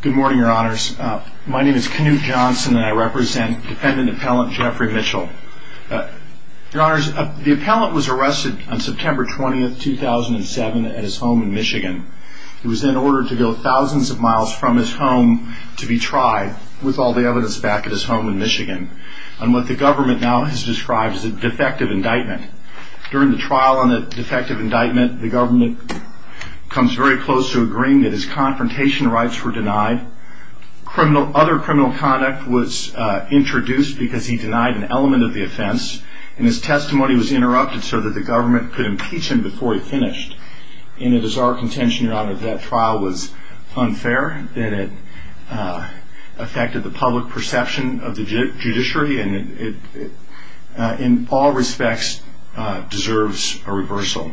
Good morning, your honors. My name is Knute Johnson and I represent defendant appellant Jeffrey Mitchell. Your honors, the appellant was arrested on September 20th, 2007 at his home in Michigan. He was then ordered to go thousands of miles from his home to be tried with all the evidence back at his home in Michigan on what the government now has described as a defective indictment. During the trial on the defective indictment, the government comes very close to agreeing that his confrontation rights were denied. Other criminal conduct was introduced because he denied an element of the offense and his testimony was interrupted so that the government could impeach him before he finished. And it is our contention, your honor, that that trial was unfair, that it affected the public perception of the judiciary and it, in all respects, deserves a reversal.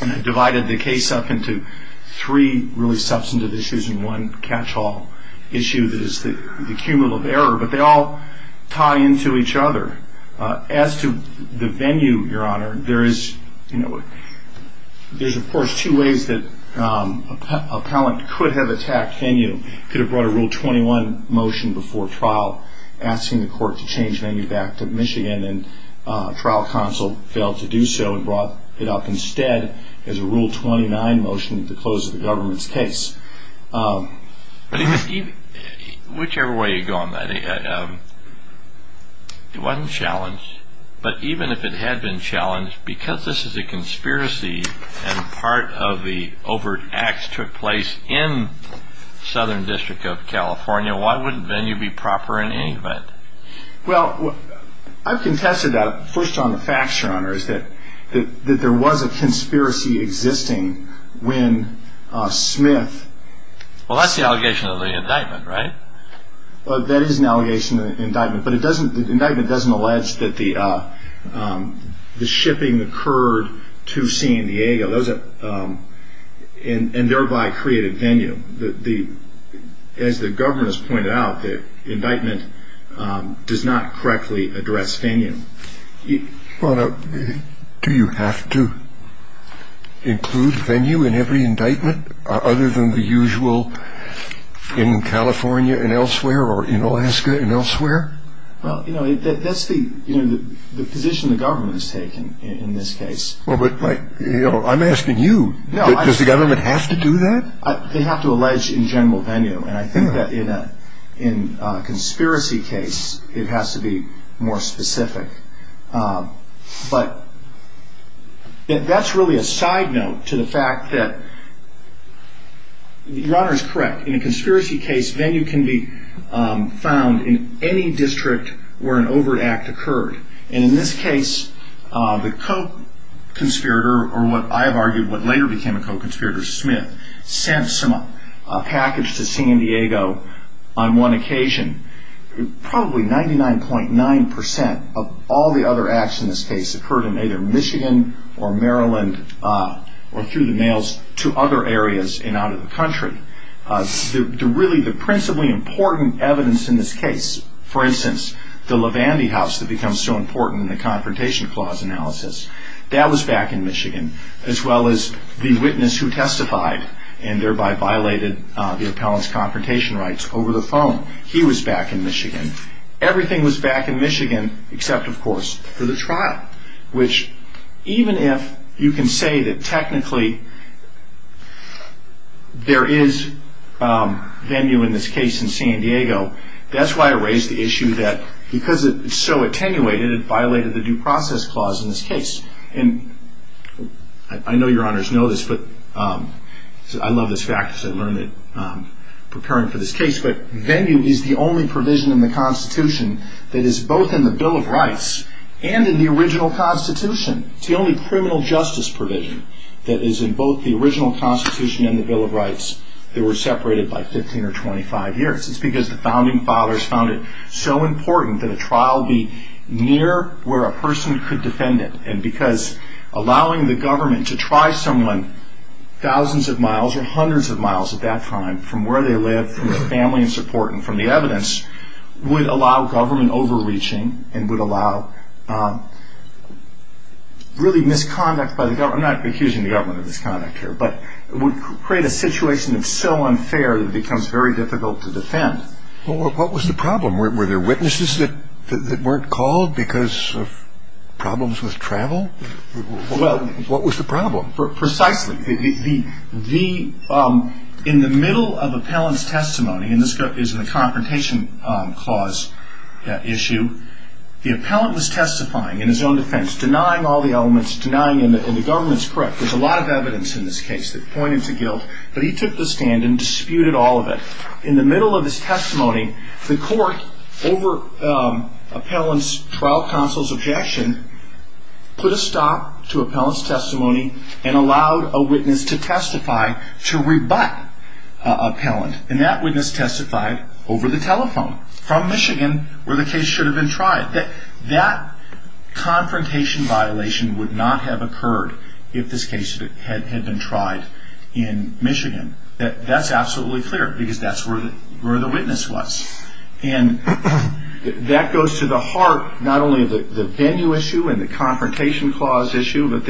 And I divided the case up into three really substantive issues and one catch-all issue that is the cumulative error, but they all tie into each other. As to the venue, your honor, there is, you know, there's of course two ways that an appellant could have attacked venue. He could have brought a Rule 21 motion before trial asking the court to change venue back to Michigan and trial counsel failed to do so and brought it up instead as a Rule 29 motion to close the government's case. Whichever way you go on that, it wasn't challenged, but even if it had been challenged, because this is a conspiracy and part of the overt acts took place in Southern District of California, why wouldn't venue be proper in any event? Well, I've contested that first on the facts, your honor, is that there was a conspiracy existing when Smith... Well, that's the allegation of the indictment, right? Well, that is an allegation of the indictment, but the indictment doesn't allege that the shipping occurred to San Diego and thereby created venue. As the government has pointed out, the indictment does not correctly address venue. Well, do you have to include venue in every indictment other than the usual in California and elsewhere or in Alaska and elsewhere? Well, you know, that's the position the government has taken in this case. Well, but, you know, I'm asking you. Does the government have to do that? They have to allege in general venue, and I think that in a conspiracy case, it has to be more specific. But that's really a side note to the fact that your honor is correct. In a conspiracy case, venue can be found in any district where an overt act occurred. And in this case, the co-conspirator, or what I have argued what later became a co-conspirator, Smith, sent some package to San Diego on one occasion. Probably 99.9% of all the other acts in this case occurred in either Michigan or Maryland or through the mails to other areas and out of the country. Really, the principally important evidence in this case, for instance, the Lavandy House that becomes so important in the Confrontation Clause analysis, that was back in Michigan, as well as the witness who testified and thereby violated the appellant's confrontation rights over the phone. He was back in Michigan. Everything was back in Michigan except, of course, for the trial, which even if you can say that technically there is venue in this case in San Diego, that's why I raised the issue that because it's so attenuated, it violated the due process clause in this case. And I know your honors know this, but I love this fact because I learned it preparing for this case, but venue is the only provision in the Constitution that is both in the Bill of Rights and in the original Constitution. It's the only criminal justice provision that is in both the original Constitution and the Bill of Rights that were separated by 15 or 25 years. It's because the founding fathers found it so important that a trial be near where a person could defend it. And because allowing the government to try someone thousands of miles or hundreds of miles at that time, from where they live, from their family and support and from the evidence, would allow government overreaching and would allow really misconduct by the government. I'm not accusing the government of misconduct here, but it would create a situation that's so unfair that it becomes very difficult to defend. What was the problem? Were there witnesses that weren't called because of problems with travel? What was the problem? Precisely. In the middle of appellant's testimony, and this is in the Confrontation Clause issue, the appellant was testifying in his own defense, denying all the elements, denying that the government's correct. There's a lot of evidence in this case that pointed to guilt, but he took the stand and disputed all of it. In the middle of his testimony, the court, over appellant's trial counsel's objection, put a stop to appellant's testimony and allowed a witness to testify to rebut appellant. And that witness testified over the telephone from Michigan, where the case should have been tried. That confrontation violation would not have occurred if this case had been tried in Michigan. That's absolutely clear because that's where the witness was. And that goes to the heart, not only of the venue issue and the Confrontation Clause issue, but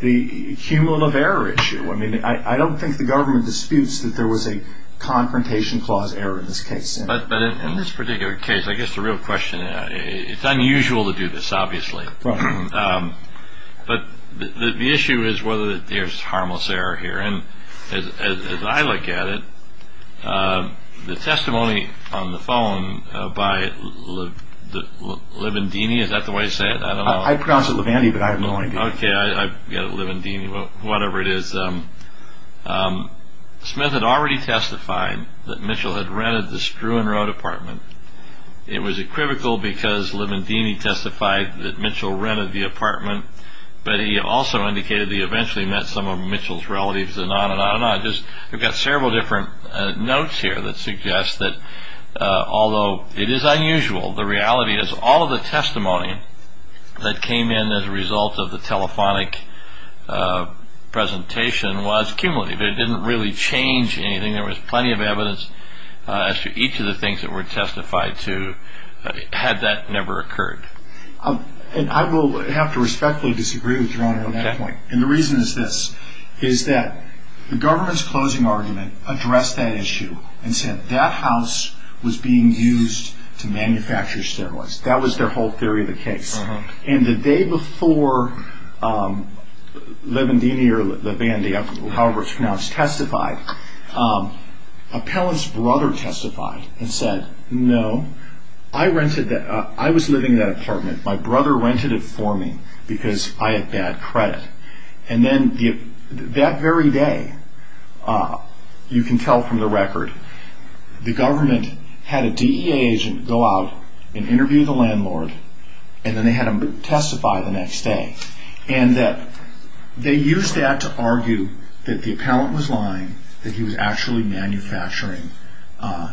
the cumulative error issue. I mean, I don't think the government disputes that there was a Confrontation Clause error in this case. But in this particular case, I guess the real question, it's unusual to do this, obviously. But the issue is whether there's harmless error here. And as I look at it, the testimony on the phone by Livandini, is that the way you say it? I don't know. I pronounce it Livandy, but I have no idea. Okay, I get it, Livandini, whatever it is. Smith had already testified that Mitchell had rented the Struan Road apartment. It was equivocal because Livandini testified that Mitchell rented the apartment, but he also indicated that he eventually met some of Mitchell's relatives and on and on and on. I've got several different notes here that suggest that although it is unusual, the reality is all of the testimony that came in as a result of the telephonic presentation was cumulative. It didn't really change anything. There was plenty of evidence as to each of the things that were testified to had that never occurred. And I will have to respectfully disagree with Your Honor on that point. And the reason is this, is that the government's closing argument addressed that issue and said that house was being used to manufacture steroids. That was their whole theory of the case. And the day before Livandini or Livandy, however it's pronounced, testified, Appellant's brother testified and said, no, I was living in that apartment. My brother rented it for me because I had bad credit. And then that very day, you can tell from the record, the government had a DEA agent go out and interview the landlord, and then they had him testify the next day. And that they used that to argue that the appellant was lying, that he was actually manufacturing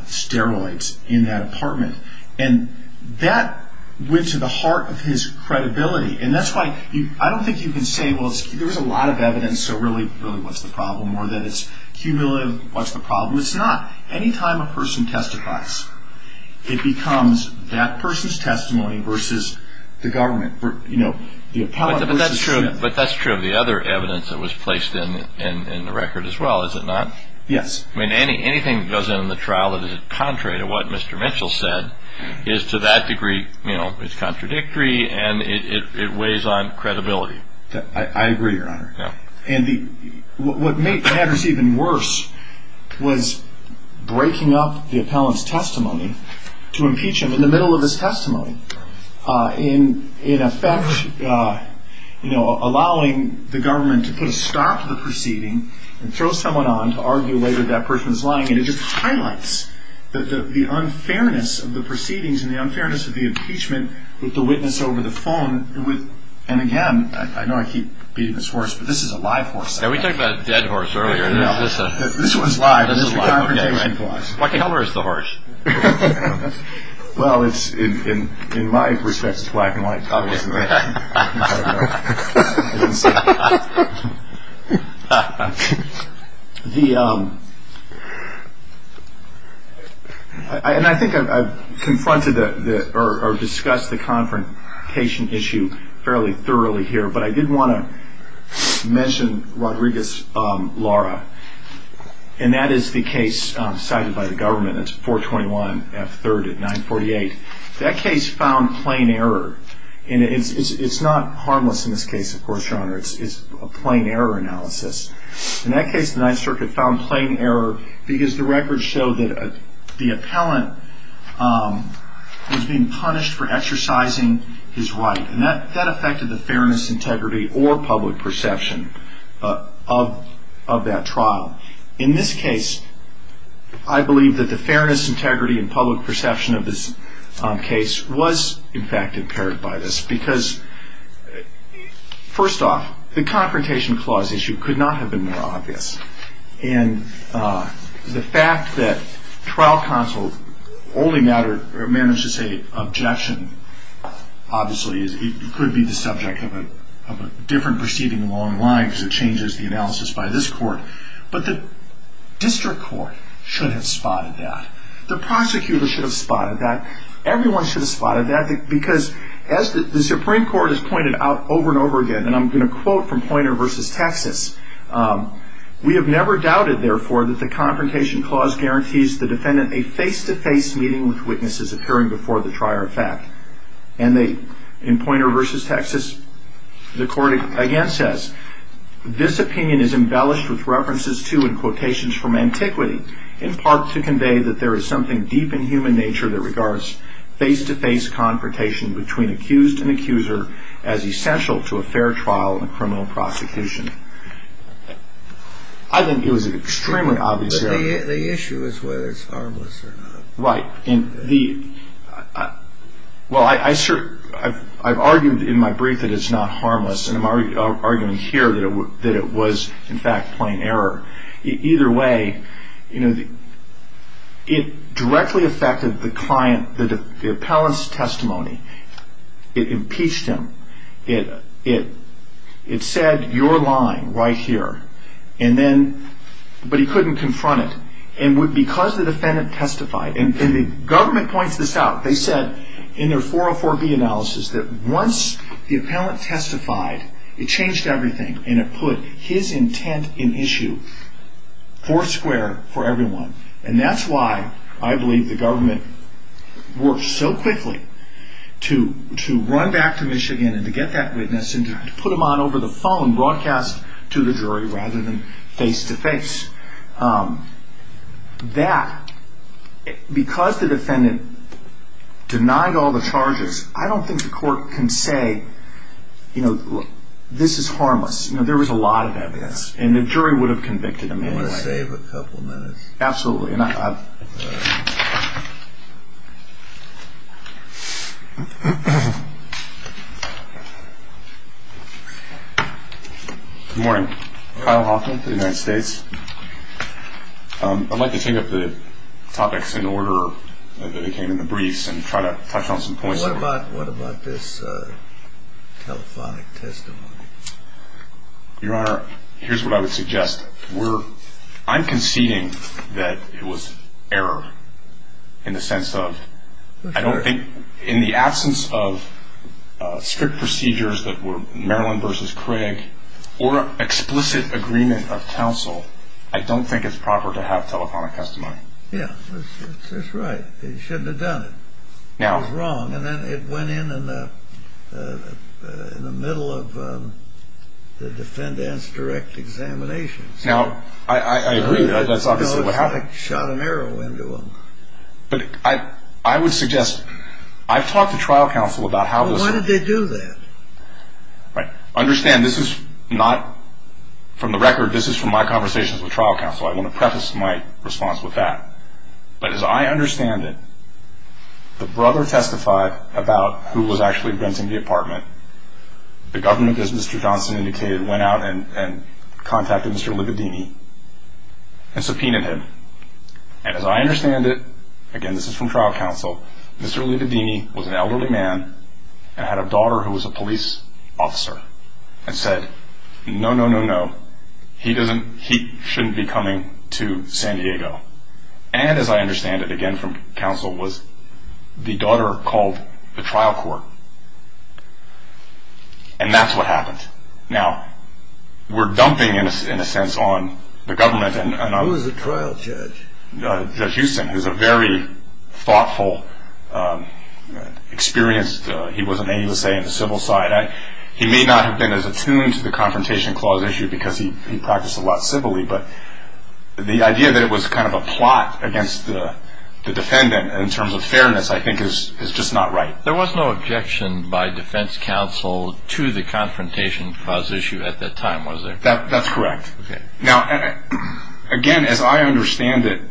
steroids in that apartment. And that went to the heart of his credibility. And that's why I don't think you can say, well, there was a lot of evidence, so really what's the problem? Or that it's cumulative, what's the problem? It's not. Any time a person testifies, it becomes that person's testimony versus the government. But that's true of the other evidence that was placed in the record as well, is it not? Yes. I mean, anything that goes in the trial that is contrary to what Mr. Mitchell said is to that degree contradictory and it weighs on credibility. I agree, Your Honor. And what made matters even worse was breaking up the appellant's testimony to impeach him in the middle of his testimony. In effect, you know, allowing the government to put a stop to the proceeding and throw someone on to argue later that person's lying, and it just highlights the unfairness of the proceedings and the unfairness of the impeachment with the witness over the phone. And again, I know I keep beating this horse, but this is a live horse. We talked about a dead horse earlier. This one's live. What color is the horse? Well, in my respect, it's black and white, obviously. And I think I've confronted or discussed the confrontation issue fairly thoroughly here, but I did want to mention Rodriguez-Lara, and that is the case cited by the government. It's 421F3rd at 948. That case found plain error, and it's not harmless in this case, of course, Your Honor. It's a plain error analysis. In that case, the Ninth Circuit found plain error because the records show that the appellant was being punished for exercising his right, and that affected the fairness, integrity, or public perception of that trial. In this case, I believe that the fairness, integrity, and public perception of this case was, in fact, impaired by this because, first off, the confrontation clause issue could not have been more obvious, and the fact that trial counsel only managed to say objection, obviously, could be the subject of a different proceeding along the line because it changes the analysis by this court, but the district court should have spotted that. The prosecutor should have spotted that. Everyone should have spotted that because, as the Supreme Court has pointed out over and over again, and I'm going to quote from Poynter v. Texas, we have never doubted, therefore, that the confrontation clause guarantees the defendant a face-to-face meeting with witnesses appearing before the trier of fact. And in Poynter v. Texas, the court again says, this opinion is embellished with references to and quotations from antiquity, in part to convey that there is something deep in human nature that regards face-to-face confrontation between accused and accuser as essential to a fair trial in a criminal prosecution. I think it was an extremely obvious error. The issue is whether it's harmless or not. Right. Well, I've argued in my brief that it's not harmless, and I'm arguing here that it was, in fact, plain error. Either way, it directly affected the client, the appellant's testimony. It impeached him. It said, you're lying right here. And then, but he couldn't confront it. And because the defendant testified, and the government points this out, they said in their 404B analysis that once the appellant testified, it changed everything, and it put his intent in issue. Four square for everyone. And that's why I believe the government worked so quickly to run back to Michigan and to get that witness and to put him on over the phone, broadcast to the jury, rather than face-to-face. That, because the defendant denied all the charges, I don't think the court can say, you know, this is harmless. You know, there was a lot of evidence, and the jury would have convicted him anyway. I'm going to save a couple minutes. Absolutely. Good morning. Kyle Hoffman for the United States. I'd like to take up the topics in order that came in the briefs and try to touch on some points. What about this telephonic testimony? Your Honor, here's what I would suggest. I'm conceding that it was error in the sense of, I don't think in the absence of strict procedures that were Marilyn versus Craig or explicit agreement of counsel, I don't think it's proper to have telephonic testimony. Yeah, that's right. It shouldn't have done it. It was wrong, and then it went in in the middle of the defendant's direct examination. Now, I agree. That's obviously what happened. No, it shot an arrow into him. But I would suggest, I've talked to trial counsel about how this was. Well, why did they do that? Right. Understand, this is not from the record. This is from my conversations with trial counsel. I want to preface my response with that. But as I understand it, the brother testified about who was actually renting the apartment. The government, as Mr. Johnson indicated, went out and contacted Mr. Libidini and subpoenaed him. And as I understand it, again, this is from trial counsel, Mr. Libidini was an elderly man and had a daughter who was a police officer and said, no, no, no, no, he shouldn't be coming to San Diego. And as I understand it, again from counsel, was the daughter called the trial court. And that's what happened. Now, we're dumping, in a sense, on the government. Who was the trial judge? Judge Huston, who's a very thoughtful, experienced, he was an AUSA on the civil side. He may not have been as attuned to the Confrontation Clause issue because he practiced a lot civilly, but the idea that it was kind of a plot against the defendant in terms of fairness, I think, is just not right. There was no objection by defense counsel to the Confrontation Clause issue at that time, was there? That's correct. Okay. Now, again, as I understand it,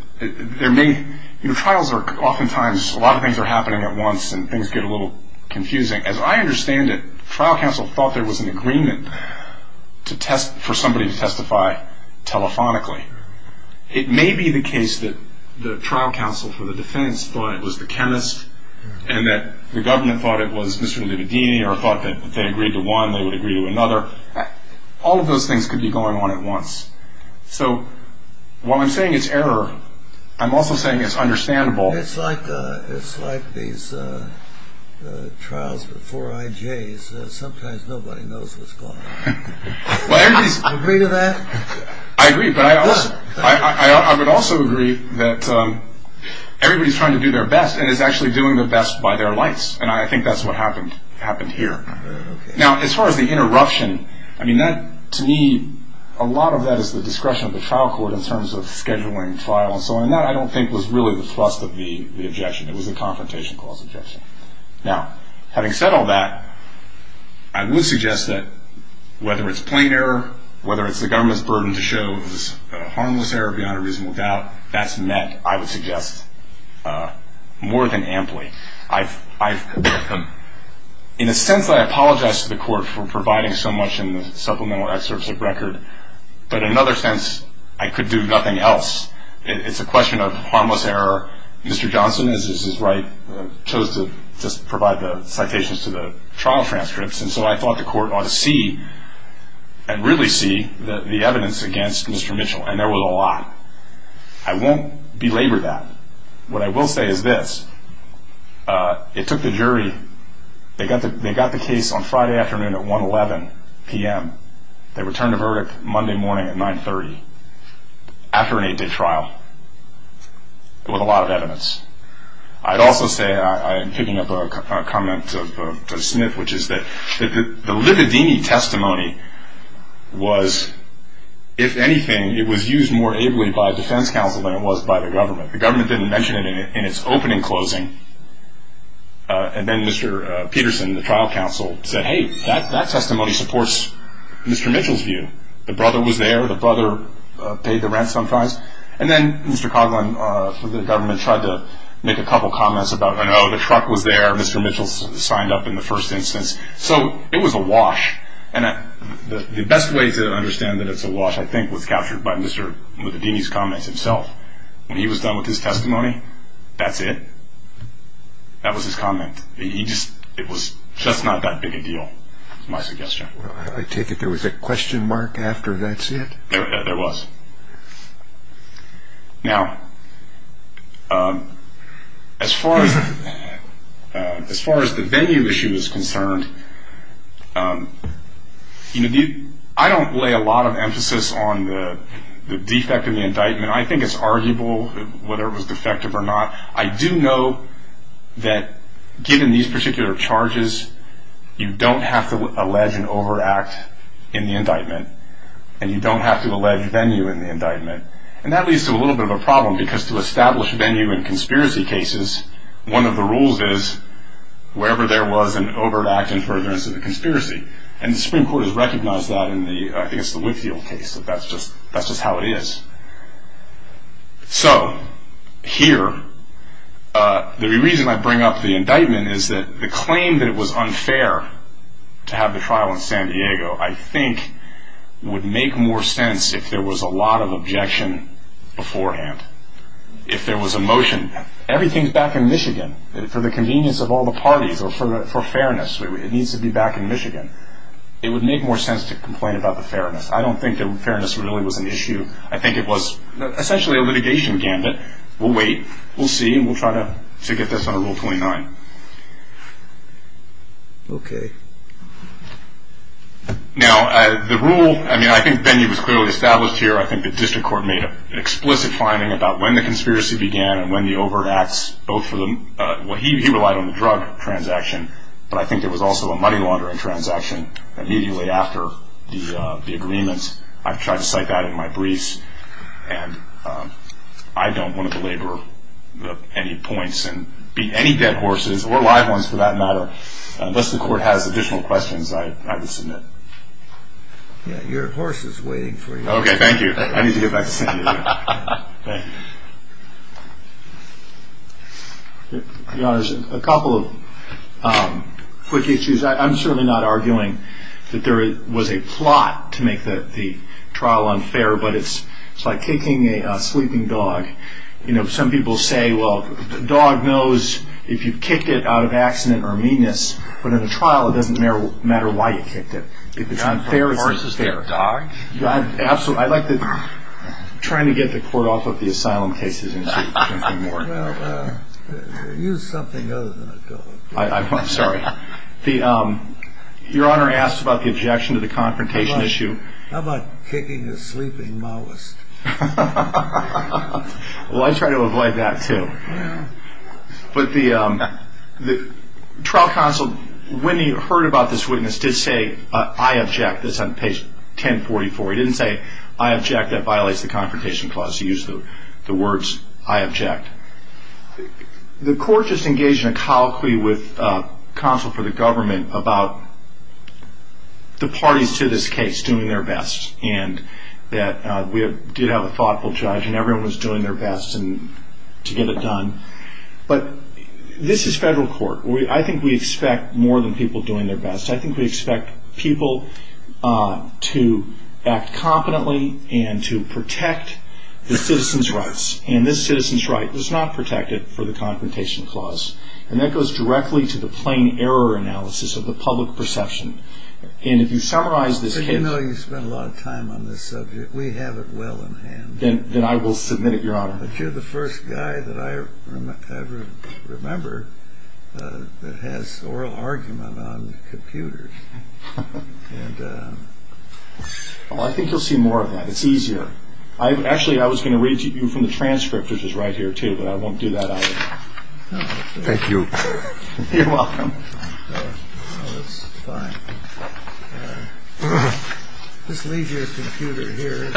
there may, you know, trials are oftentimes, a lot of things are happening at once and things get a little confusing. As I understand it, trial counsel thought there was an agreement for somebody to testify telephonically. It may be the case that the trial counsel for the defense thought it was the chemist and that the government thought it was Mr. Lividini or thought that if they agreed to one, they would agree to another. All of those things could be going on at once. So while I'm saying it's error, I'm also saying it's understandable. It's like these trials before IJs. Sometimes nobody knows what's going on. Do you agree to that? I agree, but I would also agree that everybody's trying to do their best and is actually doing their best by their lights, and I think that's what happened here. Now, as far as the interruption, I mean, to me, a lot of that is the discretion of the trial court in terms of scheduling trial and so on, and that I don't think was really the thrust of the objection. It was a confrontation clause objection. Now, having said all that, I would suggest that whether it's plain error, whether it's the government's burden to show it was a harmless error beyond a reasonable doubt, that's met, I would suggest, more than amply. In a sense, I apologize to the court for providing so much in the supplemental excerpts of record, but in another sense, I could do nothing else. It's a question of harmless error. Mr. Johnson, as is his right, chose to just provide the citations to the trial transcripts, and so I thought the court ought to see and really see the evidence against Mr. Mitchell, and there was a lot. I won't belabor that. What I will say is this. It took the jury. They got the case on Friday afternoon at 1 p.m. They returned the verdict Monday morning at 9.30 after an eight-day trial with a lot of evidence. I'd also say, and I'm picking up a comment of Mr. Smith, which is that the Lividini testimony was, if anything, it was used more ably by a defense counsel than it was by the government. The government didn't mention it in its opening closing, and then Mr. Peterson, the trial counsel, said, hey, that testimony supports Mr. Mitchell's view. The brother was there. The brother paid the rent sometimes, and then Mr. Coughlin for the government tried to make a couple comments about, oh, no, the truck was there. Mr. Mitchell signed up in the first instance. So it was a wash, and the best way to understand that it's a wash, I think, was captured by Mr. Lividini's comments himself. When he was done with his testimony, that's it. That was his comment. It was just not that big a deal, is my suggestion. I take it there was a question mark after that's it? There was. Now, as far as the venue issue is concerned, I don't lay a lot of emphasis on the defect in the indictment. I mean, I think it's arguable whether it was defective or not. I do know that given these particular charges, you don't have to allege an overact in the indictment, and you don't have to allege venue in the indictment, and that leads to a little bit of a problem because to establish venue in conspiracy cases, one of the rules is wherever there was an overact and furtherance of the conspiracy, and the Supreme Court has recognized that in the, I think it's the Whitfield case, that that's just how it is. So here, the reason I bring up the indictment is that the claim that it was unfair to have the trial in San Diego, I think would make more sense if there was a lot of objection beforehand. If there was a motion, everything's back in Michigan, for the convenience of all the parties or for fairness, it needs to be back in Michigan. It would make more sense to complain about the fairness. I don't think that fairness really was an issue. I think it was essentially a litigation gambit. We'll wait. We'll see, and we'll try to get this under Rule 29. Okay. Now, the rule, I mean, I think venue was clearly established here. I think the district court made an explicit finding about when the conspiracy began and when the overacts, both for the, well, he relied on the drug transaction, but I think there was also a money laundering transaction immediately after the agreement. I've tried to cite that in my briefs, and I don't want to belabor any points and beat any dead horses or live ones for that matter. Unless the court has additional questions, I would submit. Your horse is waiting for you. Okay, thank you. I need to get back to San Diego. Your Honor, there's a couple of quick issues. I'm certainly not arguing that there was a plot to make the trial unfair, but it's like kicking a sleeping dog. You know, some people say, well, the dog knows if you kicked it out of accident or meanness, but in a trial it doesn't matter why you kicked it. If it's unfair, it's unfair. Absolutely. I'd like to try to get the court off of the asylum cases and see if there's anything more. Well, use something other than a dog. I'm sorry. Your Honor asks about the objection to the confrontation issue. How about kicking a sleeping Maoist? Well, I try to avoid that, too. But the trial counsel, when he heard about this witness, did say, I object. That's on page 1044. He didn't say, I object, that violates the confrontation clause. He used the words, I object. The court just engaged in a colloquy with counsel for the government about the parties to this case doing their best and that we did have a thoughtful judge and everyone was doing their best to get it done. But this is federal court. I think we expect more than people doing their best. I think we expect people to act competently and to protect the citizen's rights. And this citizen's right was not protected for the confrontation clause. And that goes directly to the plain error analysis of the public perception. And if you summarize this case. You know you spent a lot of time on this subject. We have it well in hand. Then I will submit it, Your Honor. But you're the first guy that I ever remember that has oral argument on computers. I think you'll see more of that. It's easier. Actually, I was going to read to you from the transcript, which is right here, too, but I won't do that either. Thank you. You're welcome. That's fine. Just leave your computer here.